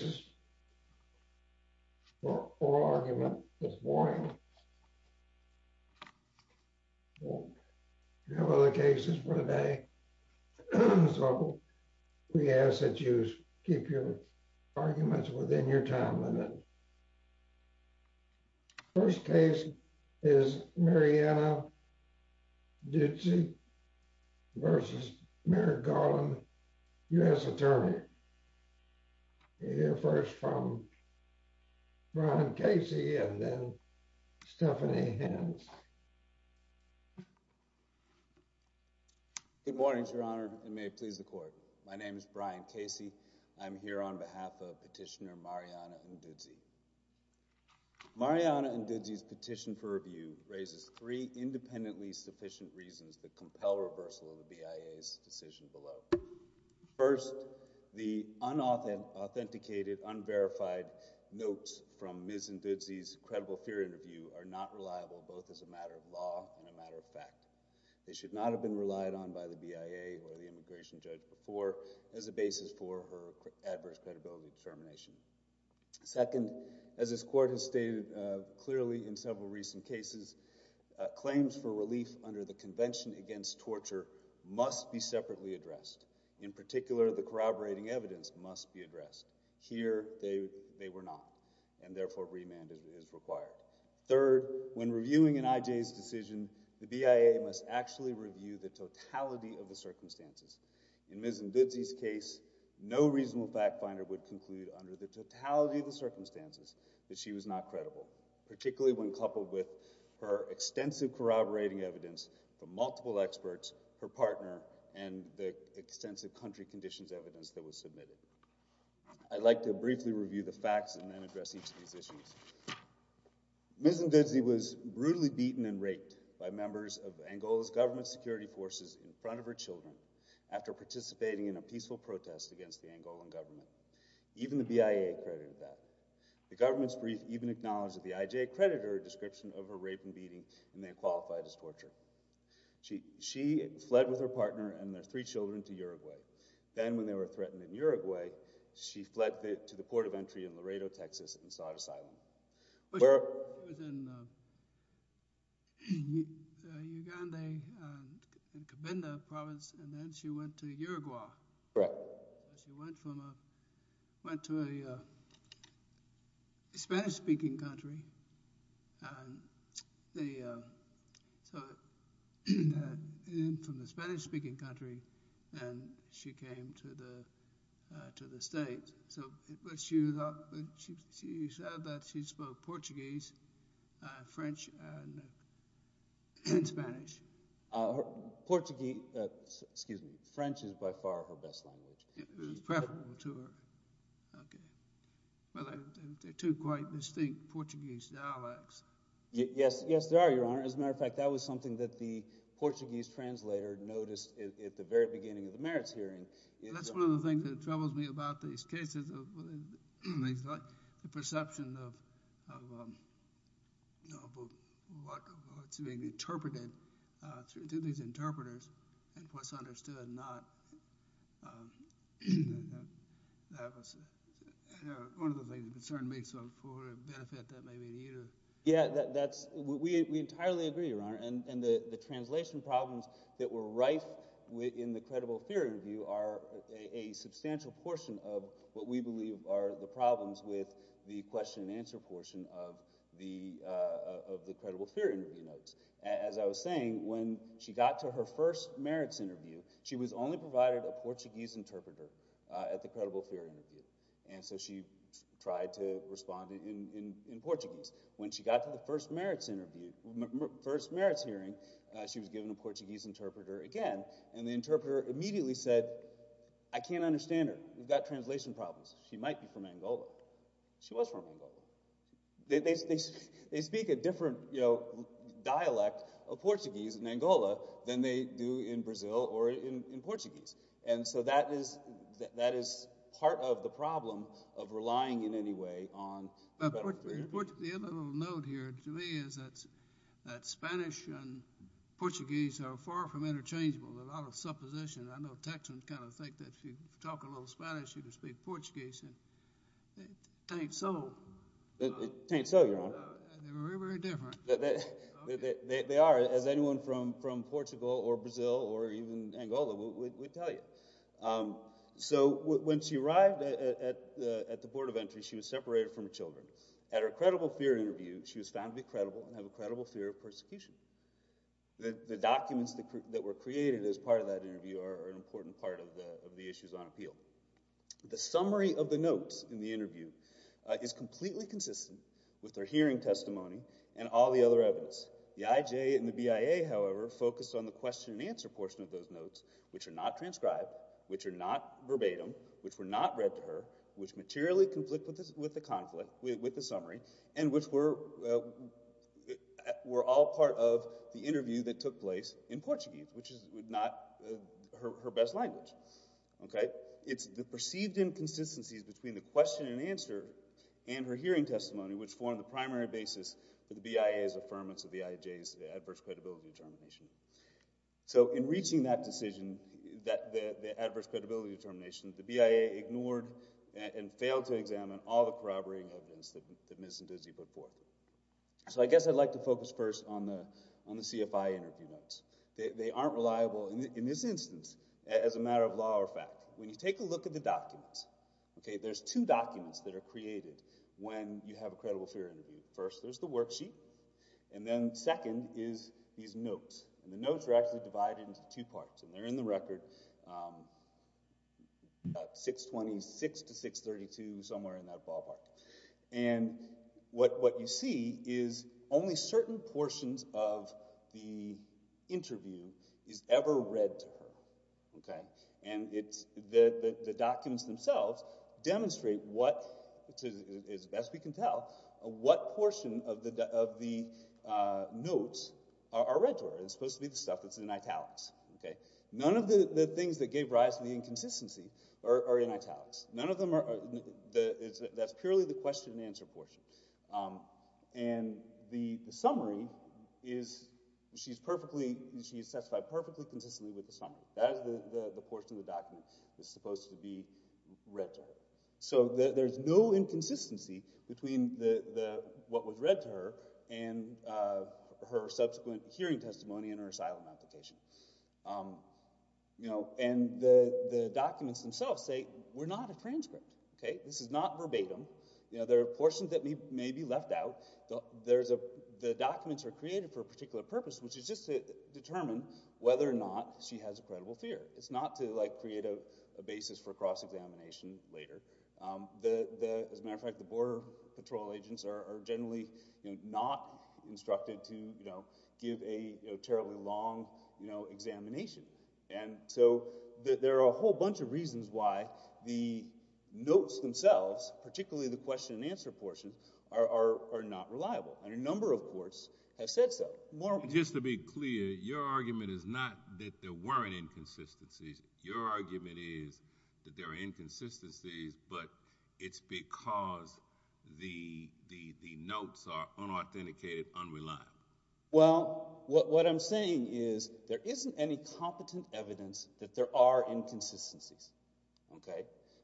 v. Mary Garland, U.S. Attorney. Good morning, Your Honor, and may it please the Court, my name is Brian Casey. I'm here on behalf of Petitioner Mariana Ndudzi. Mariana Ndudzi's petition for review raises three independently sufficient reasons that compel reversal of the BIA's decision below. First, the unauthenticated, unverified notes from Ms. Ndudzi's credible fear interview are not reliable, both as a matter of law and a matter of fact. They should not have been relied on by the BIA or the immigration judge before as a basis for her adverse credibility determination. Second, as this Court has stated clearly in several recent cases, claims for relief under the Convention Against Torture must be separately addressed. In particular, the corroborating evidence must be addressed. Here, they were not, and therefore remand is required. Third, when reviewing an IJ's decision, the BIA must actually review the totality of the circumstances. In Ms. Ndudzi's case, no reasonable fact finder would conclude under the totality of the circumstances that she was not credible, particularly when coupled with her extensive corroborating evidence from multiple experts, her partner, and the extensive country conditions evidence that was submitted. I'd like to briefly review the facts and then address each of these issues. Ms. Ndudzi was brutally beaten and raped by members of Angola's government security forces in front of her children after participating in a peaceful protest against the Angolan government. Even the BIA credited that. The government's brief even acknowledged that the IJ credited her a description of her rape and beating, and they qualified as torture. She fled with her partner and their three children to Uruguay. Then, when they were threatened in Uruguay, she fled to the port of entry in Laredo, Texas, and sought asylum. She was in Uganda province, and then she went to Uruguay. She went to a Spanish-speaking country, and she came to the States. She said that she spoke Portuguese, French, and Spanish. French is by far her best language. It was preferable to her. There are two quite distinct Portuguese dialects. Yes, there are, Your Honor. As a matter of fact, that was something that the Portuguese translator noticed at the very beginning of the merits hearing. That's one of the things that troubles me about these cases, the perception of what's being interpreted through these interpreters and what's understood and not. That was one of the things that concerned me, so for the benefit that may be to you. We entirely agree, Your Honor. The translation problems that were rife in the credible theory review are a substantial portion of what we believe are the problems with the question and answer portion of the credible theory notes. As I was saying, when she got to her first merits interview, she was only provided a Portuguese interpreter at the credible theory interview, and so she tried to respond in Portuguese. When she got to the first merits hearing, she was given a Portuguese interpreter again, and the interpreter immediately said, I can't understand her. We've got translation problems. She might be from Angola. She was from Angola. They speak a different dialect of Portuguese in Angola than they do in Brazil or in Portuguese. That is part of the problem of relying in any way on the credible theory. The other little note here to me is that Spanish and Portuguese are far from interchangeable. There's a lot of supposition. I know Texans kind of think that if you talk a little Spanish, you can speak Portuguese, and it ain't so. It ain't so, Your Honor. They're very, very different. They are, as anyone from Portugal or Brazil or even Angola would tell you. So when she arrived at the Board of Entry, she was separated from her children. At her credible theory interview, she was found to be credible and have a credible fear of persecution. The documents that were created as part of that interview are an important part of the issues on appeal. The summary of the notes in the interview is completely consistent with her hearing testimony and all the other evidence. The IJ and the BIA, however, focus on the question-and-answer portion of those notes, which are not transcribed, which are not verbatim, which were not read to her, which materially conflict with the summary, and which were all part of the interview that took place in Portuguese, which is not her best language. Okay? It's the perceived inconsistencies between the question-and-answer and her hearing testimony which form the primary basis for the BIA's affirmance of the IJ's adverse credibility determination. So in reaching that decision, the adverse credibility determination, the BIA ignored and failed to examine all the corroborating evidence that Ms. Ndidi put forth. So I guess I'd like to focus first on the CFI interview notes. They aren't reliable in this instance as a matter of law or fact. When you take a look at the documents, okay, there's two documents that are created when you have a credible fear interview. First, there's the worksheet, and then second is these notes. And the notes are actually divided into two parts, and they're in the record 626 to 632, somewhere in that ballpark. And what you see is only certain portions of the interview is ever read to her. Okay? And the documents themselves demonstrate what, as best we can tell, what portion of the notes are read to her. It's supposed to be the stuff that's in italics. Okay? None of the things that gave rise to the inconsistency are in italics. None of them are – that's purely the question and answer portion. And the summary is – she's perfectly – she's satisfied perfectly consistently with the summary. That is the portion of the document that's supposed to be read to her. So there's no inconsistency between what was read to her and her subsequent hearing testimony and her asylum application. And the documents themselves say, we're not a transcript. Okay? This is not verbatim. There are portions that may be left out. The documents are created for a particular purpose, which is just to determine whether or not she has a credible fear. It's not to, like, create a basis for cross-examination later. As a matter of fact, the Border Patrol agents are generally not instructed to give a terribly long examination. And so there are a whole bunch of reasons why the notes themselves, particularly the question and answer portion, are not reliable. And a number of courts have said so. Just to be clear, your argument is not that there weren't inconsistencies. Your argument is that there are inconsistencies, but it's because the notes are unauthenticated, unreliable. Well, what I'm saying is there isn't any competent evidence that there are inconsistencies. Okay?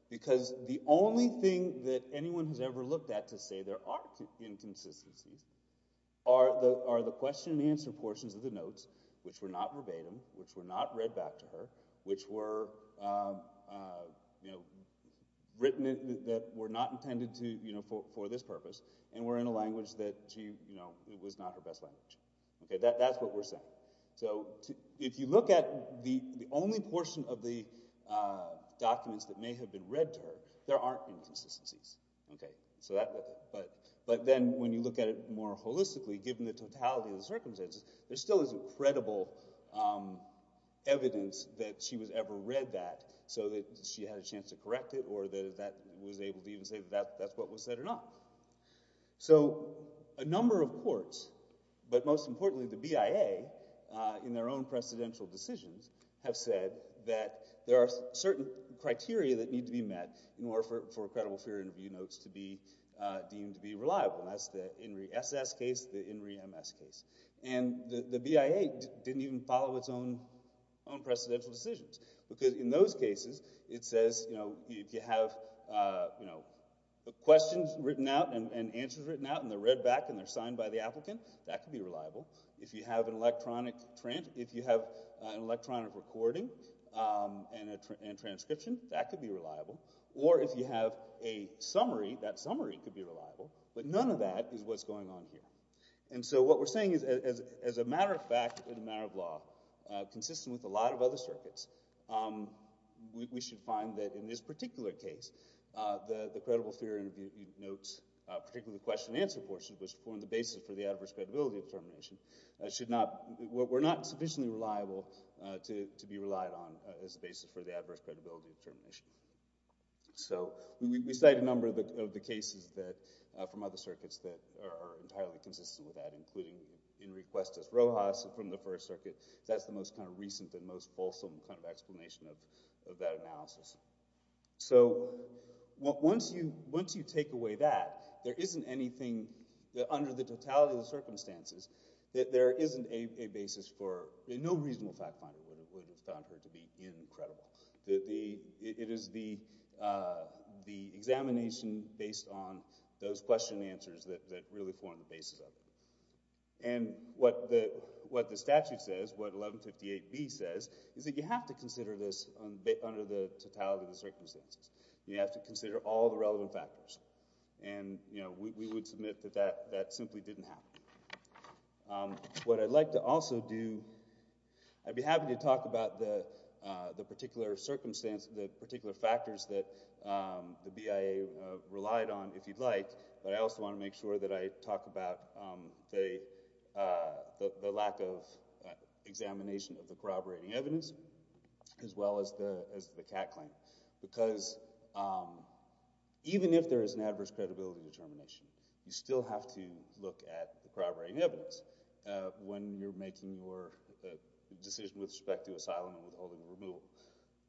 Because the only thing that anyone has ever looked at to say there are inconsistencies are the question and answer portions of the notes, which were not verbatim, which were not read back to her, which were written that were not intended for this purpose, and were in a language that was not her best language. That's what we're saying. So if you look at the only portion of the documents that may have been read to her, there aren't inconsistencies. But then when you look at it more holistically, given the totality of the circumstances, there still isn't credible evidence that she was ever read that so that she had a chance to correct it or that that was able to even say that that's what was said or not. So a number of courts, but most importantly the BIA in their own precedential decisions, have said that there are certain criteria that need to be met in order for credible fear interview notes to be deemed to be reliable. And that's the INRI SS case, the INRI MS case. And the BIA didn't even follow its own precedential decisions because in those cases it says, you know, if you have questions written out and answers written out and they're read back and they're signed by the applicant, that could be reliable. If you have an electronic recording and transcription, that could be reliable. Or if you have a summary, that summary could be reliable. But none of that is what's going on here. And so what we're saying is as a matter of fact and a matter of law, consistent with a lot of other circuits, we should find that in this particular case the credible fear interview notes, particularly the question and answer portion, which form the basis for the adverse credibility determination, were not sufficiently reliable to be relied on as a basis for the adverse credibility determination. So we cite a number of the cases from other circuits that are entirely consistent with that, including INRI Questus Rojas from the First Circuit. That's the most kind of recent and most fulsome kind of explanation of that analysis. So once you take away that, there isn't anything under the totality of the circumstances that there isn't a basis for – no reasonable fact finder would have found her to be incredible. It is the examination based on those question and answers that really form the basis of it. And what the statute says, what 1158B says, is that you have to consider this under the totality of the circumstances. You have to consider all the relevant factors. And we would submit that that simply didn't happen. What I'd like to also do, I'd be happy to talk about the particular circumstances, the particular factors that the BIA relied on if you'd like, but I also want to make sure that I talk about the lack of examination of the corroborating evidence as well as the Catt claim. Because even if there is an adverse credibility determination, you still have to look at the corroborating evidence when you're making your decision with respect to asylum and withholding or removal.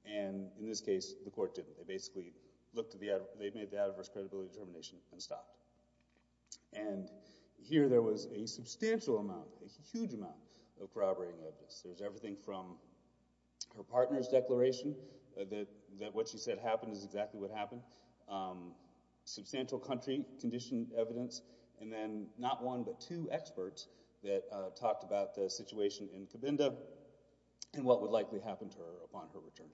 And in this case, the court didn't. They made the adverse credibility determination and stopped. And here there was a substantial amount, a huge amount of corroborating evidence. There was everything from her partner's declaration that what she said happened is exactly what happened, substantial country condition evidence, and then not one but two experts that talked about the situation in Cabinda and what would likely happen to her upon her return.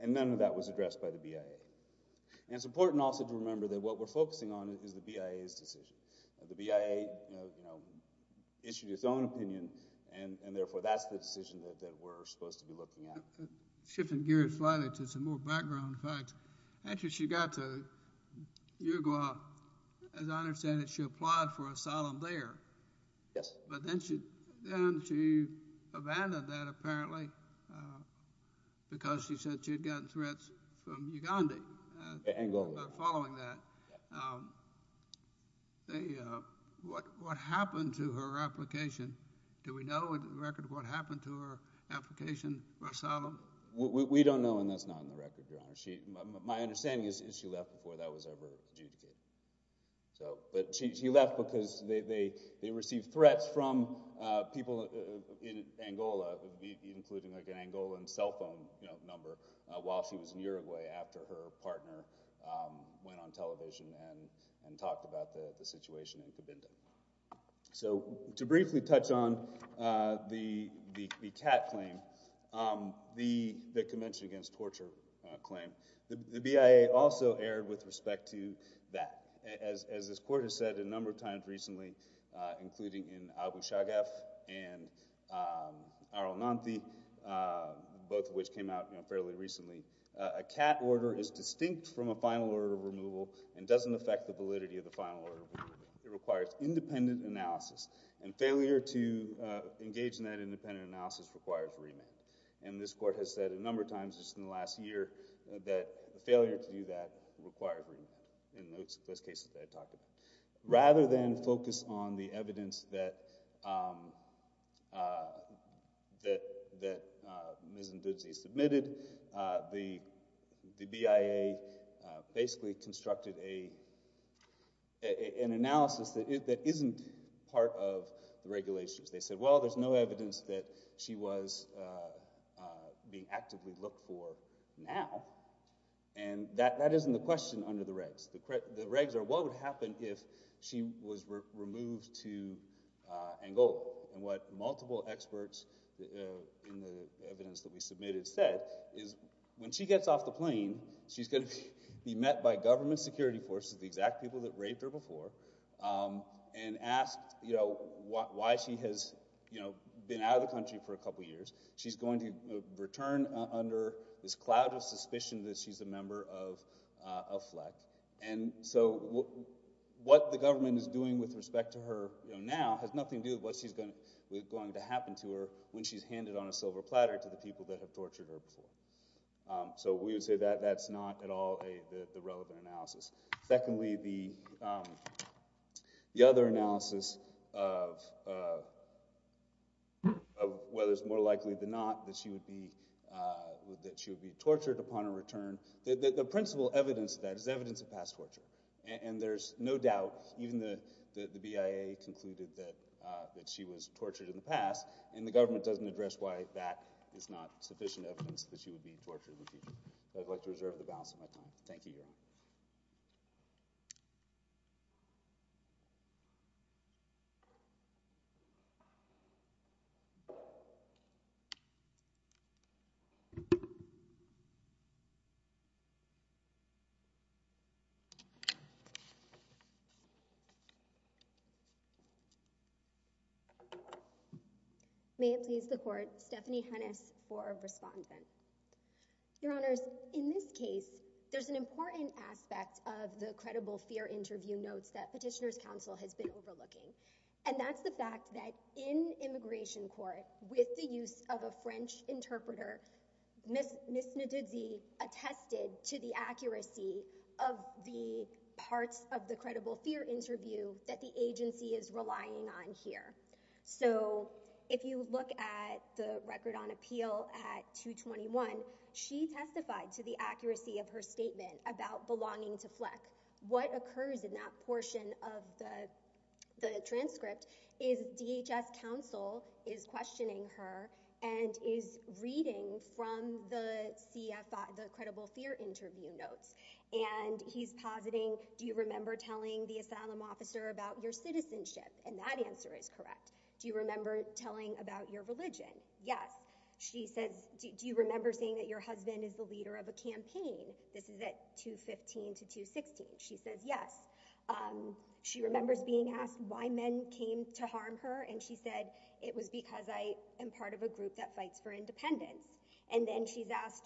And none of that was addressed by the BIA. And it's important also to remember that what we're focusing on is the BIA's decision. The BIA issued its own opinion, and therefore that's the decision that we're supposed to be looking at. Shifting gears slightly to some more background facts, actually she got to Uruguay, as I understand it, she applied for asylum there. Yes. But then she abandoned that apparently because she said she had gotten threats from Uganda. Angola. Following that. Yes. What happened to her application? Do we know in the record what happened to her application for asylum? We don't know, and that's not in the record, Your Honor. My understanding is she left before that was ever adjudicated. But she left because they received threats from people in Angola, including an Angolan cell phone number, while she was in Uruguay after her partner went on television and talked about the situation in Cabinda. So to briefly touch on the CAT claim, the Convention Against Torture claim, the BIA also erred with respect to that. As this Court has said a number of times recently, including in Abu Shaghaf and Arul Nanthi, both of which came out fairly recently, a CAT order is distinct from a final order of removal and doesn't affect the validity of the final order of removal. It requires independent analysis, and failure to engage in that independent analysis requires remand. And this Court has said a number of times just in the last year that failure to do that required remand in those cases that I talked about. Rather than focus on the evidence that Ms. Ntutsi submitted, the BIA basically constructed an analysis that isn't part of the regulations. They said, well, there's no evidence that she was being actively looked for now. And that isn't the question under the regs. The regs are what would happen if she was removed to Angola. And what multiple experts in the evidence that we submitted said is when she gets off the plane, she's going to be met by government security forces, the exact people that raped her before, and asked why she has been out of the country for a couple years. She's going to return under this cloud of suspicion that she's a member of FLEC. And so what the government is doing with respect to her now has nothing to do with what's going to happen to her when she's handed on a silver platter to the people that have tortured her before. So we would say that that's not at all the relevant analysis. Secondly, the other analysis of whether it's more likely than not that she would be tortured upon her return, the principal evidence of that is evidence of past torture. And there's no doubt, even the BIA concluded that she was tortured in the past, and the government doesn't address why that is not sufficient evidence that she would be tortured in the future. I'd like to reserve the balance of my time. Thank you, Your Honor. May it please the Court, Stephanie Hennis for respondent. Your Honors, in this case, there's an important aspect of the credible fear interview notes that Petitioner's Counsel has been overlooking. And that's the fact that in immigration court, with the use of a French interpreter, Ms. Ntidzi attested to the accuracy of the parts of the credible fear interview that the agency is relying on here. So if you look at the record on appeal at 221, she testified to the accuracy of her statement about belonging to FLEC. What occurs in that portion of the transcript is DHS Counsel is questioning her and is reading from the credible fear interview notes. And he's positing, do you remember telling the asylum officer about your citizenship? And that answer is correct. Do you remember telling about your religion? Yes. She says, do you remember saying that your husband is the leader of a campaign? This is at 215 to 216. She says yes. She remembers being asked why men came to harm her. And she said, it was because I am part of a group that fights for independence. And then she's asked,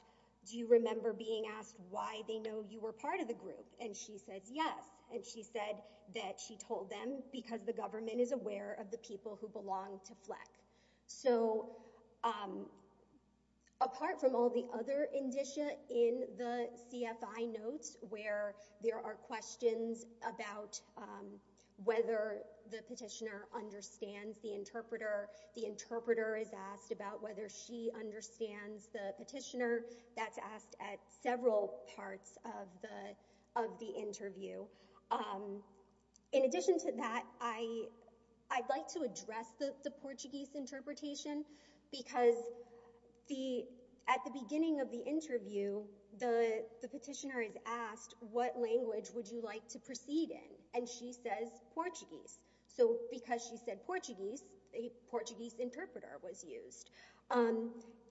do you remember being asked why they know you were part of the group? And she says yes. And she said that she told them because the government is aware of the people who belong to FLEC. So apart from all the other indicia in the CFI notes where there are questions about whether the petitioner understands the interpreter, the interpreter is asked about whether she understands the petitioner, that's asked at several parts of the interview. In addition to that, I'd like to address the Portuguese interpretation because at the beginning of the interview, the petitioner is asked, what language would you like to proceed in? And she says Portuguese. So because she said Portuguese, a Portuguese interpreter was used.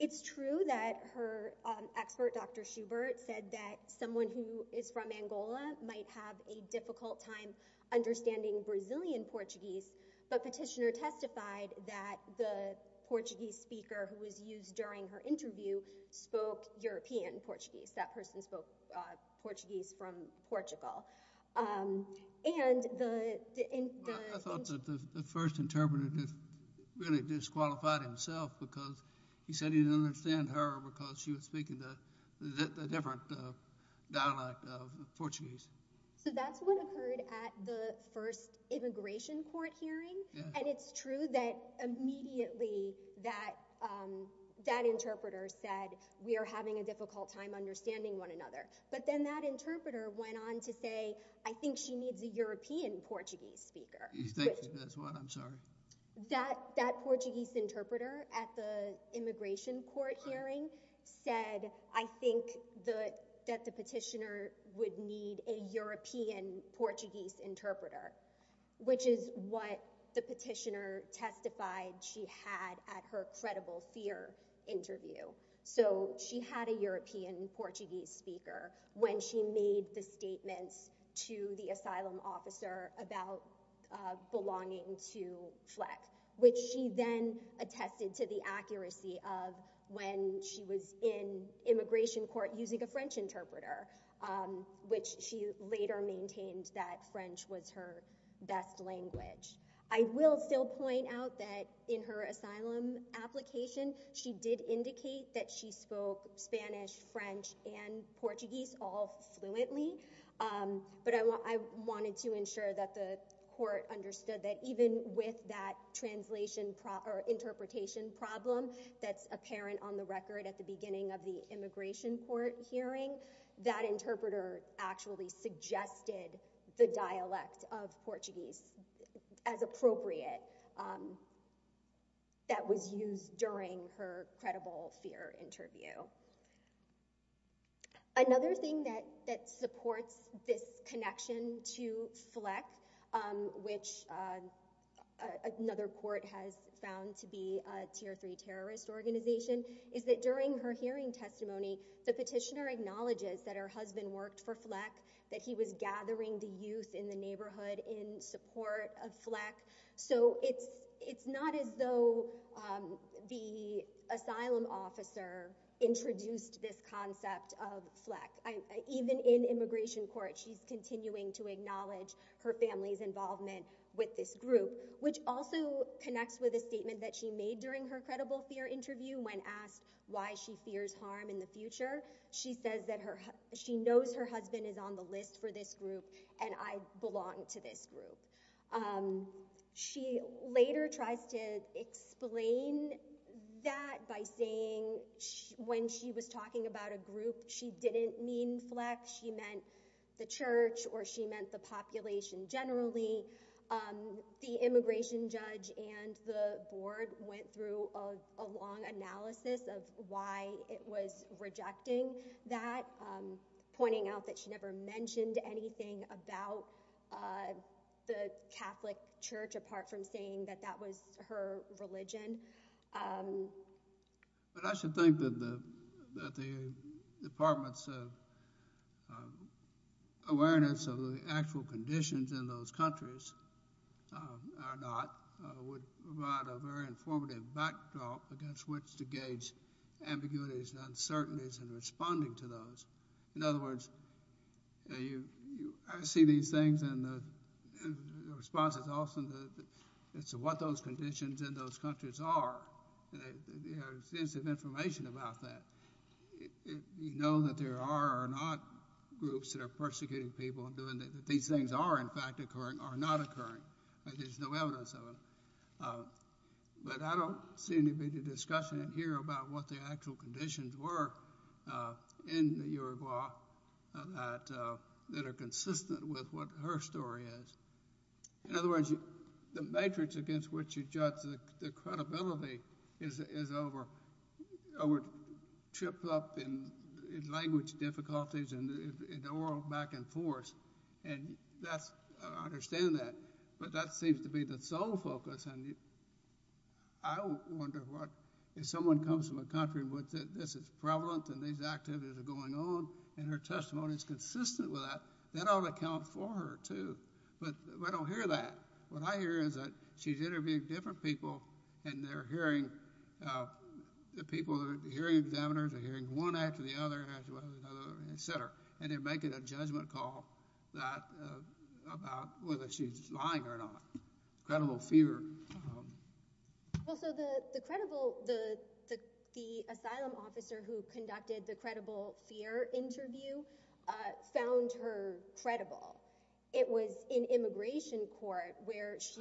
It's true that her expert, Dr. Schubert, said that someone who is from Angola might have a difficult time understanding Brazilian Portuguese. But petitioner testified that the Portuguese speaker who was used during her interview spoke European Portuguese. That person spoke Portuguese from Portugal. I thought that the first interpreter really disqualified himself because he said he didn't understand her because she was speaking a different dialect of Portuguese. So that's what occurred at the first immigration court hearing. And it's true that immediately that interpreter said, we are having a difficult time understanding one another. But then that interpreter went on to say, I think she needs a European Portuguese speaker. That Portuguese interpreter at the immigration court hearing said, I think that the petitioner would need a European Portuguese interpreter, which is what the petitioner testified she had at her credible fear interview. So she had a European Portuguese speaker when she made the statements to the asylum officer about belonging to FLEC, which she then attested to the accuracy of when she was in immigration court using a French interpreter, which she later maintained that French was her best language. I will still point out that in her asylum application, she did indicate that she spoke Spanish, French, and Portuguese all fluently. But I wanted to ensure that the court understood that even with that translation or interpretation problem that's apparent on the record at the beginning of the immigration court hearing, that interpreter actually suggested the dialect of Portuguese as appropriate that was used during her credible fear interview. Another thing that supports this connection to FLEC, which another court has found to be a tier three terrorist organization, is that during her hearing testimony, the petitioner acknowledges that her husband worked for FLEC, that he was gathering the youth in the neighborhood in support of FLEC. So it's not as though the asylum officer introduced this concept of FLEC. Even in immigration court, she's continuing to acknowledge her family's involvement with this group, which also connects with a statement that she made during her credible fear interview when asked why she fears harm in the future. She says that she knows her husband is on the list for this group, and I belong to this group. She later tries to explain that by saying when she was talking about a group, she didn't mean FLEC. She meant the church, or she meant the population generally. The immigration judge and the board went through a long analysis of why it was rejecting that, pointing out that she never mentioned anything about the Catholic church apart from saying that that was her religion. But I should think that the Department's awareness of the actual conditions in those countries are not, would provide a very informative backdrop against which to gauge ambiguities and uncertainties in responding to those. In other words, I see these things, and the response is often that it's what those conditions in those countries are. There's extensive information about that. You know that there are or are not groups that are persecuting people, and that these things are, in fact, occurring or not occurring. There's no evidence of them. But I don't see any big discussion in here about what the actual conditions were in the Uruguay that are consistent with what her story is. In other words, the matrix against which you judge the credibility is over, tripped up in language difficulties and oral back and forth, and I understand that. But that seems to be the sole focus, and I wonder what, if someone comes from a country where this is prevalent and these activities are going on, and her testimony is consistent with that, that ought to count for her, too. But I don't hear that. What I hear is that she's interviewing different people, and they're hearing, the people, the hearing examiners are hearing one after the other after the other, et cetera, and they're making a judgment call about whether she's lying or not. Credible fear. Well, so the credible, the asylum officer who conducted the credible fear interview found her credible. It was in immigration court where she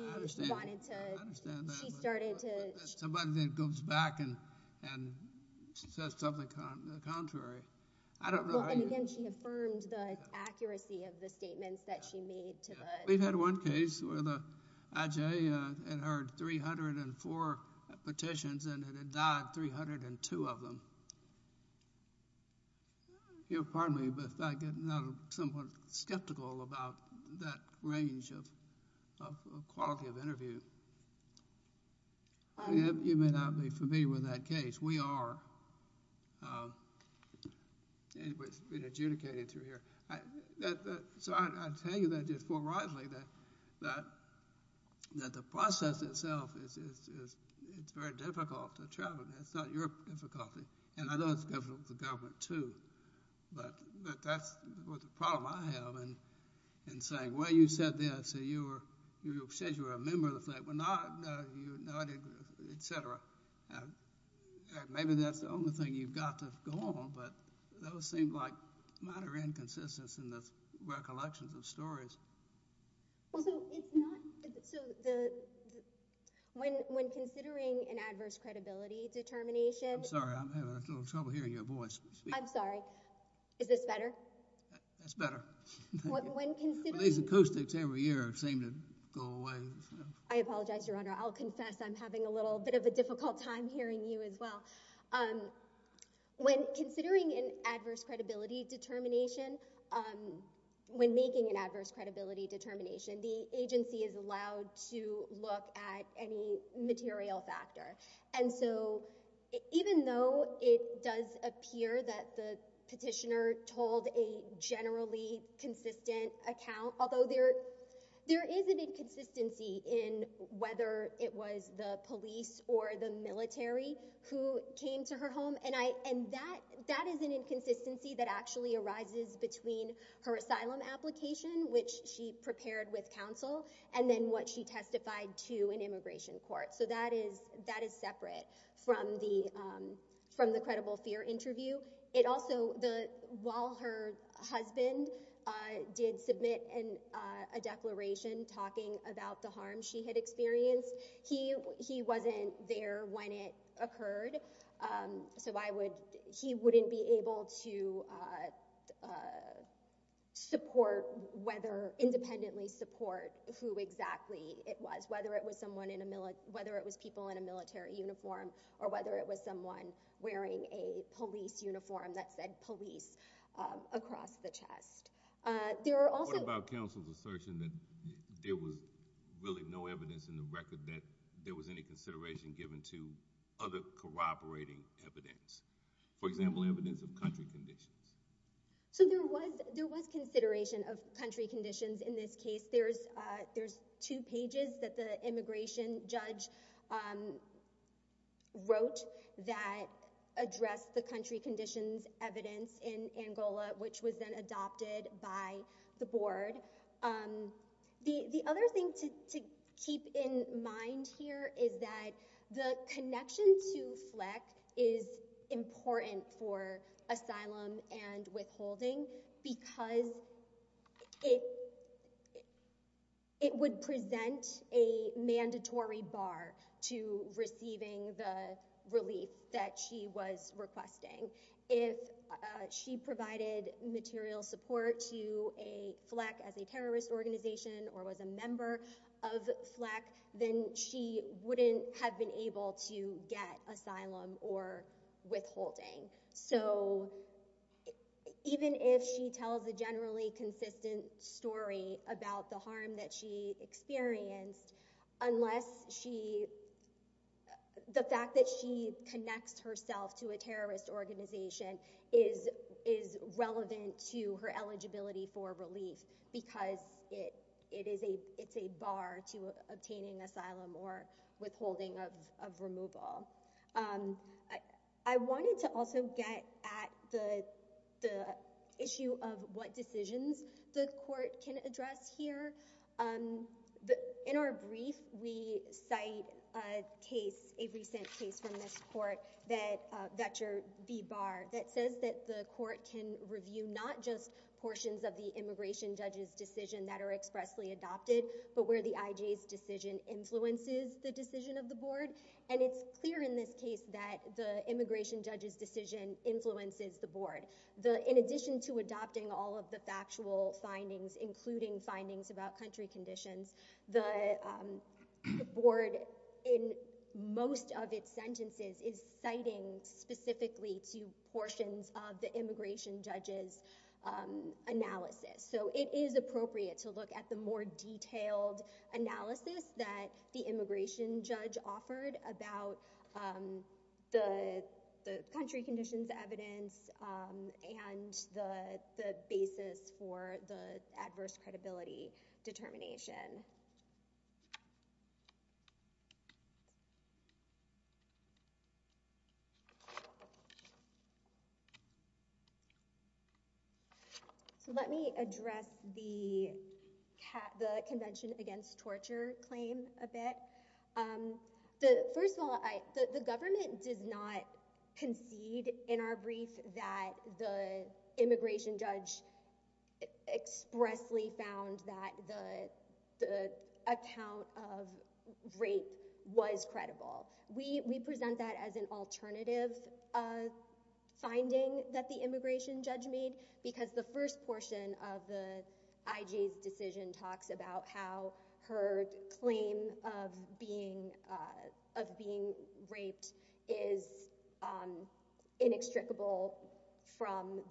wanted to- I understand that. She started to- Somebody that goes back and says something contrary. I don't know how you- Well, and again, she affirmed the accuracy of the statements that she made to the- We've had one case where the IJ had heard 304 petitions, and it had died 302 of them. Pardon me, but I get somewhat skeptical about that range of quality of interview. You may not be familiar with that case. We are. It's been adjudicated through here. So I tell you that just more widely, that the process itself, it's very difficult to travel. It's not your difficulty, and I know it's difficult for the government too, but that's the problem I have in saying, well, you said this. You said you were a member of the- Well, no. No, you're not, et cetera. Maybe that's the only thing you've got to go on, but those seem like minor inconsistencies in the recollections of stories. So it's not- So when considering an adverse credibility determination- I'm sorry. I'm having a little trouble hearing your voice. I'm sorry. Is this better? That's better. When considering- These acoustics every year seem to go away. I apologize, Your Honor. I'll confess I'm having a little bit of a difficult time hearing you as well. When considering an adverse credibility determination, when making an adverse credibility determination, the agency is allowed to look at any material factor. And so even though it does appear that the petitioner told a generally consistent account, although there is an inconsistency in whether it was the police or the military who came to her home. And that is an inconsistency that actually arises between her asylum application, which she prepared with counsel, and then what she testified to in immigration court. So that is separate from the credible fear interview. It also- While her husband did submit a declaration talking about the harm she had experienced, he wasn't there when it occurred. So I would- He wouldn't be able to support whether- independently support who exactly it was, whether it was someone in a- whether it was people in a military uniform, or whether it was someone wearing a police uniform that said police across the chest. There are also- What about counsel's assertion that there was really no evidence in the record that there was any consideration given to other corroborating evidence? For example, evidence of country conditions. So there was consideration of country conditions in this case. There's two pages that the immigration judge wrote that addressed the country conditions evidence in Angola, which was then adopted by the board. The other thing to keep in mind here is that the connection to Fleck is important for asylum and withholding because it would present a mandatory bar to receiving the relief that she was requesting. If she provided material support to Fleck as a terrorist organization or was a member of Fleck, then she wouldn't have been able to get asylum or withholding. So even if she tells a generally consistent story about the harm that she experienced, unless she- the fact that she connects herself to a terrorist organization is relevant to her eligibility for relief because it is a- it's a bar to obtaining asylum or withholding of removal. I wanted to also get at the issue of what decisions the court can address here. In our brief, we cite a case- a recent case from this court that- Vector v. Barr that says that the court can review not just portions of the immigration judge's decision that are expressly adopted, but where the IJ's decision influences the decision of the board. And it's clear in this case that the immigration judge's decision influences the board. In addition to adopting all of the factual findings, including findings about country conditions, the board, in most of its sentences, is citing specifically to portions of the immigration judge's analysis. So it is appropriate to look at the more detailed analysis that the immigration judge offered about the country conditions evidence and the basis for the adverse credibility determination. So let me address the convention against torture claim a bit. First of all, the government does not concede in our brief that the immigration judge expressly found that the account of rape was credible. We present that as an alternative finding that the immigration judge made because the first portion of the IJ's decision talks about how her claim of being raped is inextricable from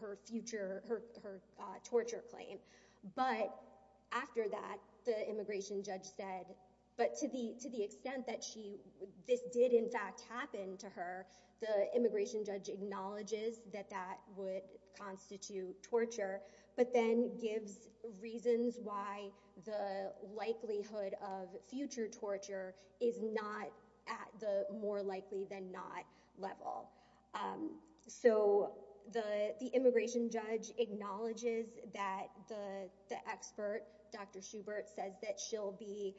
her torture claim. But after that, the immigration judge said, but to the extent that this did in fact happen to her, the immigration judge acknowledges that that would constitute torture, but then gives reasons why the likelihood of future torture is not at the more likely than not level. So the immigration judge acknowledges that the expert, Dr. Schubert, says that she'll be—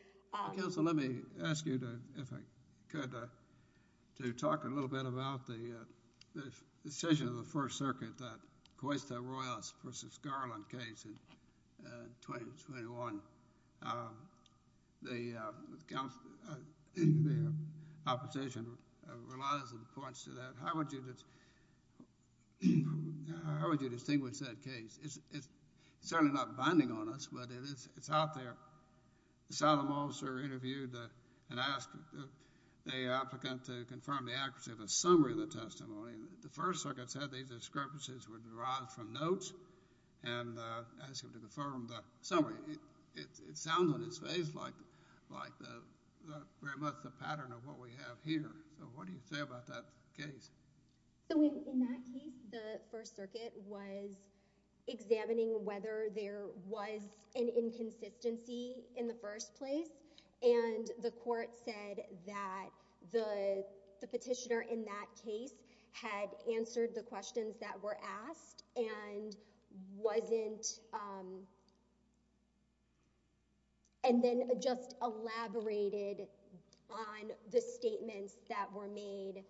Counsel, let me ask you, if I could, to talk a little bit about the decision of the First Circuit that Cuesta-Royals v. Garland case in 2021. The opposition relies in points to that. How would you distinguish that case? It's certainly not binding on us, but it's out there. The solemn officer interviewed and asked the applicant to confirm the accuracy of a summary of the testimony. The First Circuit said these discrepancies were derived from notes and asked him to confirm the summary. It sounds on its face like very much the pattern of what we have here. So what do you say about that case? In that case, the First Circuit was examining whether there was an inconsistency in the first place, and the court said that the petitioner in that case had answered the questions that were asked and wasn't— and then just elaborated on the statements that were made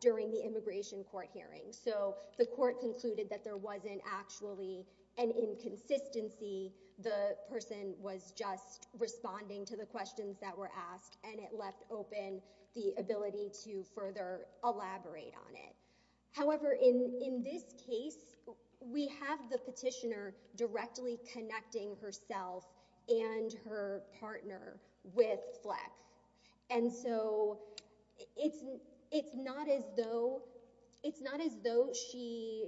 during the immigration court hearing. So the court concluded that there wasn't actually an inconsistency. The person was just responding to the questions that were asked, and it left open the ability to further elaborate on it. However, in this case, we have the petitioner directly connecting herself and her partner with Flex. And so it's not as though— it's not as though she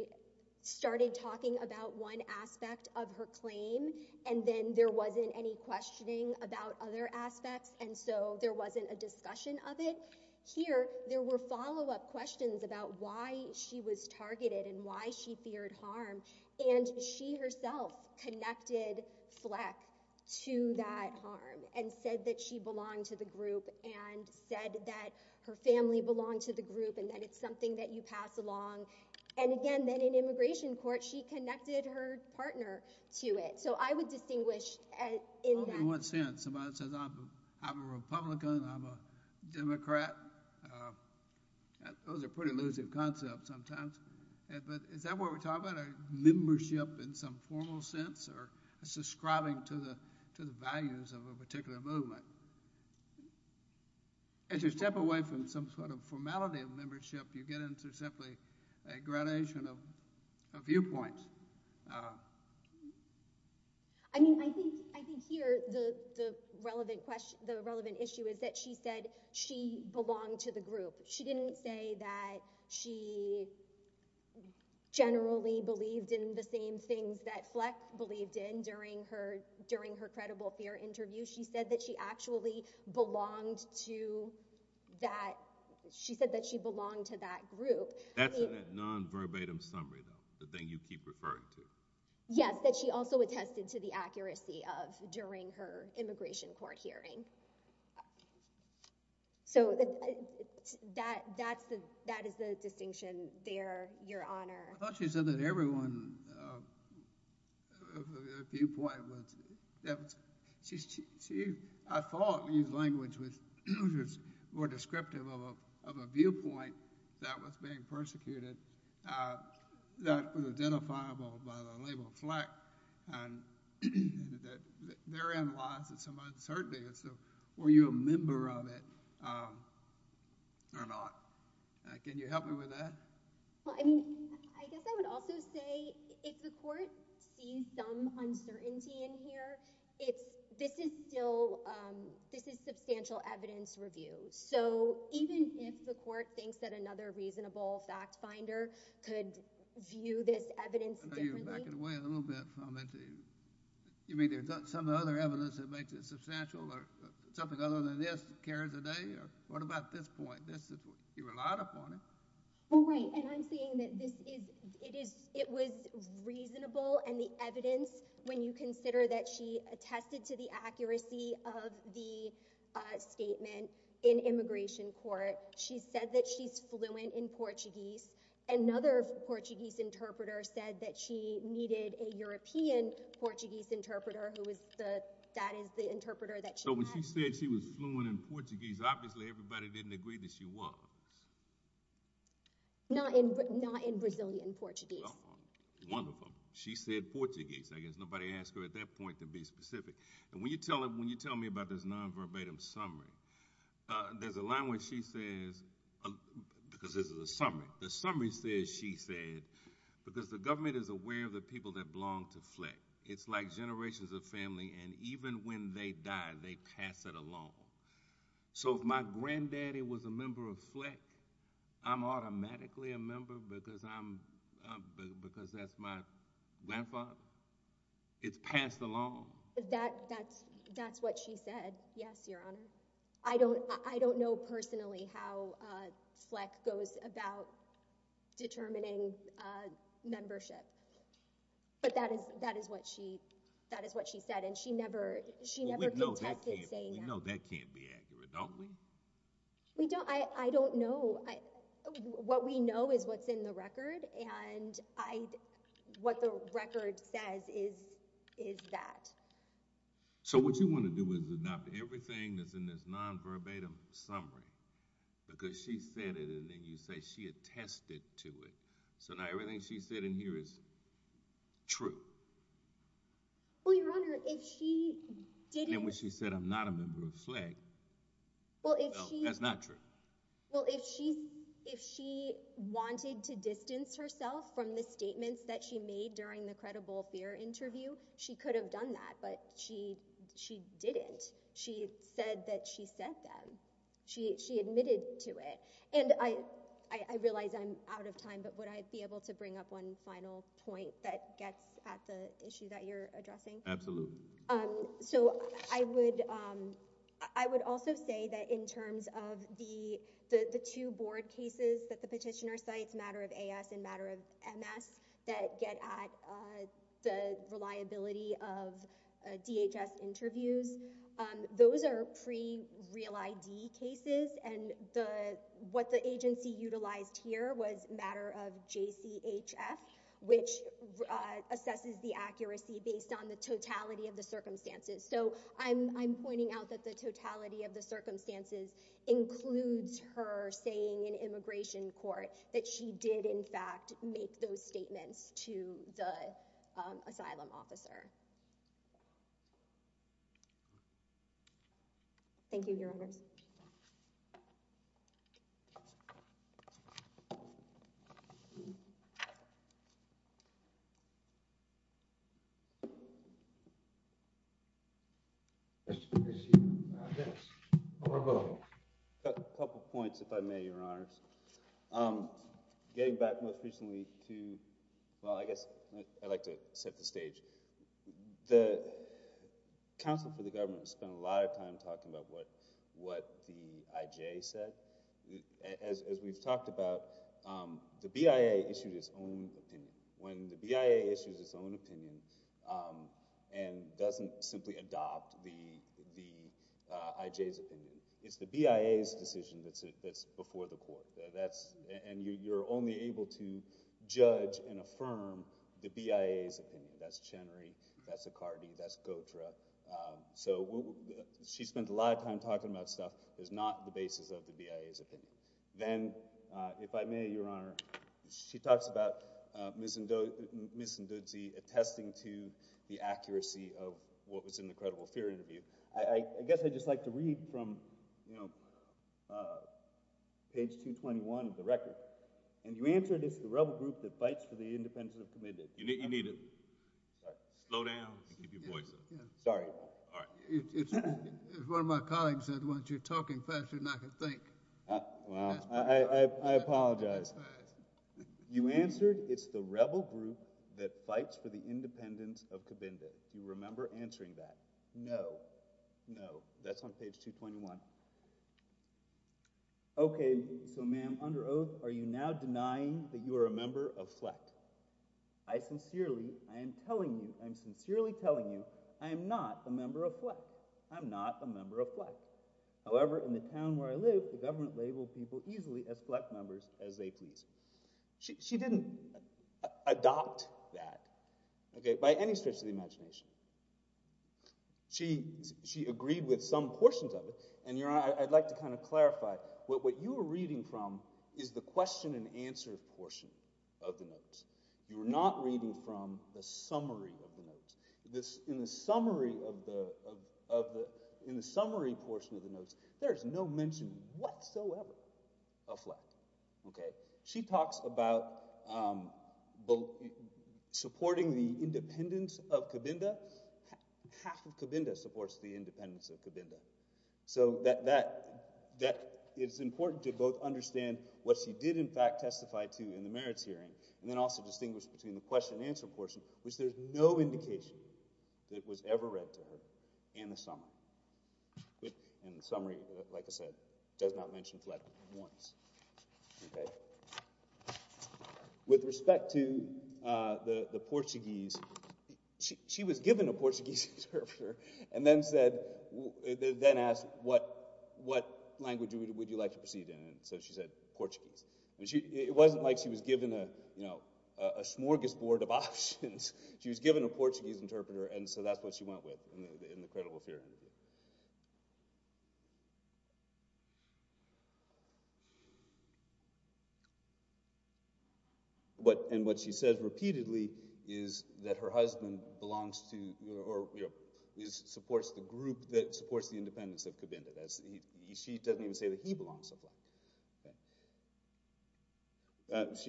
started talking about one aspect of her claim and then there wasn't any questioning about other aspects, and so there wasn't a discussion of it. Here, there were follow-up questions about why she was targeted and why she feared harm, and she herself connected Flex to that harm and said that she belonged to the group and said that her family belonged to the group and that it's something that you pass along. And again, then in immigration court, she connected her partner to it. So I would distinguish in that— if somebody says, I'm a Republican, I'm a Democrat, those are pretty elusive concepts sometimes, but is that what we're talking about, a membership in some formal sense or subscribing to the values of a particular movement? As you step away from some sort of formality of membership, you get into simply a gradation of viewpoints. I mean, I think here the relevant issue is that she said she belonged to the group. She didn't say that she generally believed in the same things that Flex believed in during her credible fear interview. She said that she actually belonged to that— she said that she belonged to that group. That's a nonverbatim summary, though, the thing you keep referring to. Yes, that she also attested to the accuracy of during her immigration court hearing. So that is the distinction there, Your Honor. I thought she said that everyone's viewpoint was— I thought Lee's language was more descriptive of a viewpoint that was being persecuted, that was identifiable by the label Flex, and that therein lies some uncertainty. So were you a member of it or not? Can you help me with that? Well, I mean, I guess I would also say if the court sees some uncertainty in here, this is still—this is substantial evidence review. So even if the court thinks that another reasonable fact-finder could view this evidence differently— I know you're backing away a little bit from it. You mean there's some other evidence that makes it substantial or something other than this carries the day? Or what about this point? You relied upon it. Well, right, and I'm saying that this is— it was reasonable and the evidence, when you consider that she attested to the accuracy of the statement in immigration court, she said that she's fluent in Portuguese. Another Portuguese interpreter said that she needed a European Portuguese interpreter, who is the—that is the interpreter that she had. So when she said she was fluent in Portuguese, obviously everybody didn't agree that she was. Not in Brazilian Portuguese. Wonderful. She said Portuguese. I guess nobody asked her at that point to be specific. And when you tell me about this nonverbatim summary, there's a line where she says—because this is a summary. The summary says she said, because the government is aware of the people that belong to FLEC. It's like generations of family, and even when they die, they pass it along. So if my granddaddy was a member of FLEC, I'm automatically a member because that's my grandfather. It's passed along. That's what she said, yes, Your Honor. I don't know personally how FLEC goes about determining membership. But that is what she said, and she never contested saying that. We know that can't be accurate, don't we? I don't know. What we know is what's in the record, and what the record says is that. So what you want to do is adopt everything that's in this nonverbatim summary because she said it, and then you say she attested to it. So now everything she said in here is true. Well, Your Honor, if she didn't— And when she said, I'm not a member of FLEC, that's not true. Well, if she wanted to distance herself from the statements that she made during the credible fear interview, she could have done that, but she didn't. She said that she said them. She admitted to it. And I realize I'm out of time, but would I be able to bring up one final point that gets at the issue that you're addressing? Absolutely. So I would also say that in terms of the two board cases that the petitioner cites, matter of AS and matter of MS, that get at the reliability of DHS interviews, those are pre-real ID cases, and what the agency utilized here was matter of JCHF, which assesses the accuracy based on the totality of the circumstances. So I'm pointing out that the totality of the circumstances includes her saying in immigration court that she did, in fact, make those statements to the asylum officer. Thank you, Your Honors. Thank you. Mr. Breshear. Yes. A couple of points, if I may, Your Honors. Getting back most recently to... Well, I guess I'd like to set the stage. The counsel for the government spent a lot of time talking about what the IJ said. As we've talked about, the BIA issued its own opinion. When the BIA issues its own opinion and doesn't simply adopt the IJ's opinion, it's the BIA's decision that's before the court. And you're only able to judge and affirm the BIA's opinion. That's Chenery, that's Accardi, that's Gotra. So she spent a lot of time talking about stuff that's not the basis of the BIA's opinion. Then, if I may, Your Honor, she talks about Ms. Ndudze attesting to the accuracy of what was in the credible fear interview. I guess I'd just like to read from page 221 of the record. And you answered, it's the rebel group that fights for the independence of the committed. You need to slow down and keep your voice up. Sorry. One of my colleagues said, once you're talking faster than I can think. Well, I apologize. You answered, it's the rebel group that fights for the independence of the committed. Do you remember answering that? No. No. That's on page 221. Okay, so ma'am, under oath, are you now denying that you are a member of FLECT? I sincerely, I am telling you, I am sincerely telling you, I am not a member of FLECT. I'm not a member of FLECT. However, in the town where I live, the government labeled people easily as FLECT members as they please. She didn't adopt that, okay, by any stretch of the imagination. She agreed with some portions of it. And, Your Honor, I'd like to kind of clarify, what you were reading from You were not reading from the summary of the notes. In the summary portion of the notes, there is no mention whatsoever of FLECT, okay? She talks about supporting the independence of Cabinda. Half of Cabinda supports the independence of Cabinda. So that is important to both understand what she did, in fact, testify to in the merits hearing, and then also distinguish between the question and answer portion, which there is no indication that it was ever read to her, in the summary. And the summary, like I said, does not mention FLECT once. Okay? With respect to the Portuguese, she was given a Portuguese interpreter, and then asked, what language would you like to proceed in? And so she said, Portuguese. It wasn't like she was given a smorgasbord of options. She was given a Portuguese interpreter, and so that's what she went with in the credible fear interview. And what she says repeatedly is that her husband belongs to, or supports the group that supports the independence of Cabinda. She doesn't even say that he belongs to FLECT.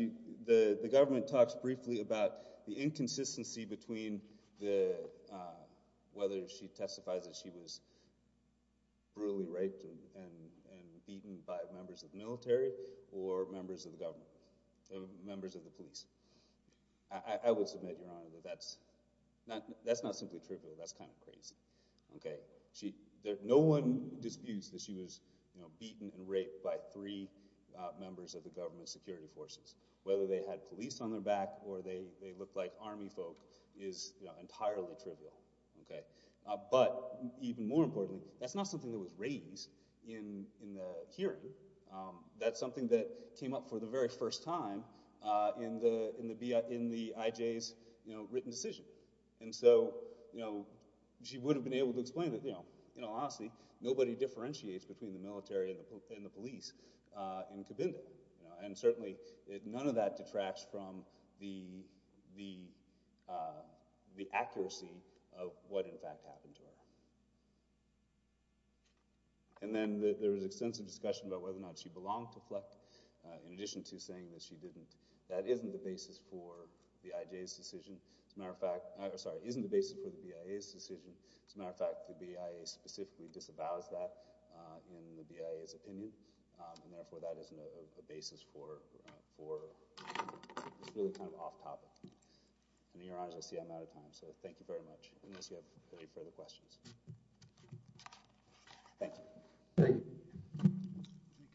The government talks briefly about the inconsistency between whether she testifies that she was brutally raped and beaten by members of the military, or members of the government, members of the police. I would submit, Your Honor, that that's not simply true, but that's kind of crazy. No one disputes that she was beaten and raped by three members of the government security forces, whether they had police on their back or they looked like army folk is entirely trivial. But even more importantly, that's not something that was raised in the hearing. That's something that came up for the very first time in the IJ's written decision. And so she would have been able to explain that, you know, honestly, nobody differentiates between the military and the police in Cabinda. And certainly none of that detracts from the accuracy of what in fact happened to her. And then there was extensive discussion about whether or not she belonged to FLECT, in addition to saying that she didn't. That isn't the basis for the IJ's decision. As a matter of fact... Sorry, isn't the basis for the BIA's decision. As a matter of fact, the BIA specifically disavows that in the BIA's opinion, and therefore that isn't a basis for... It's really kind of off-topic. In your honors, I see I'm out of time, so thank you very much, unless you have any further questions. Thank you. Thank you.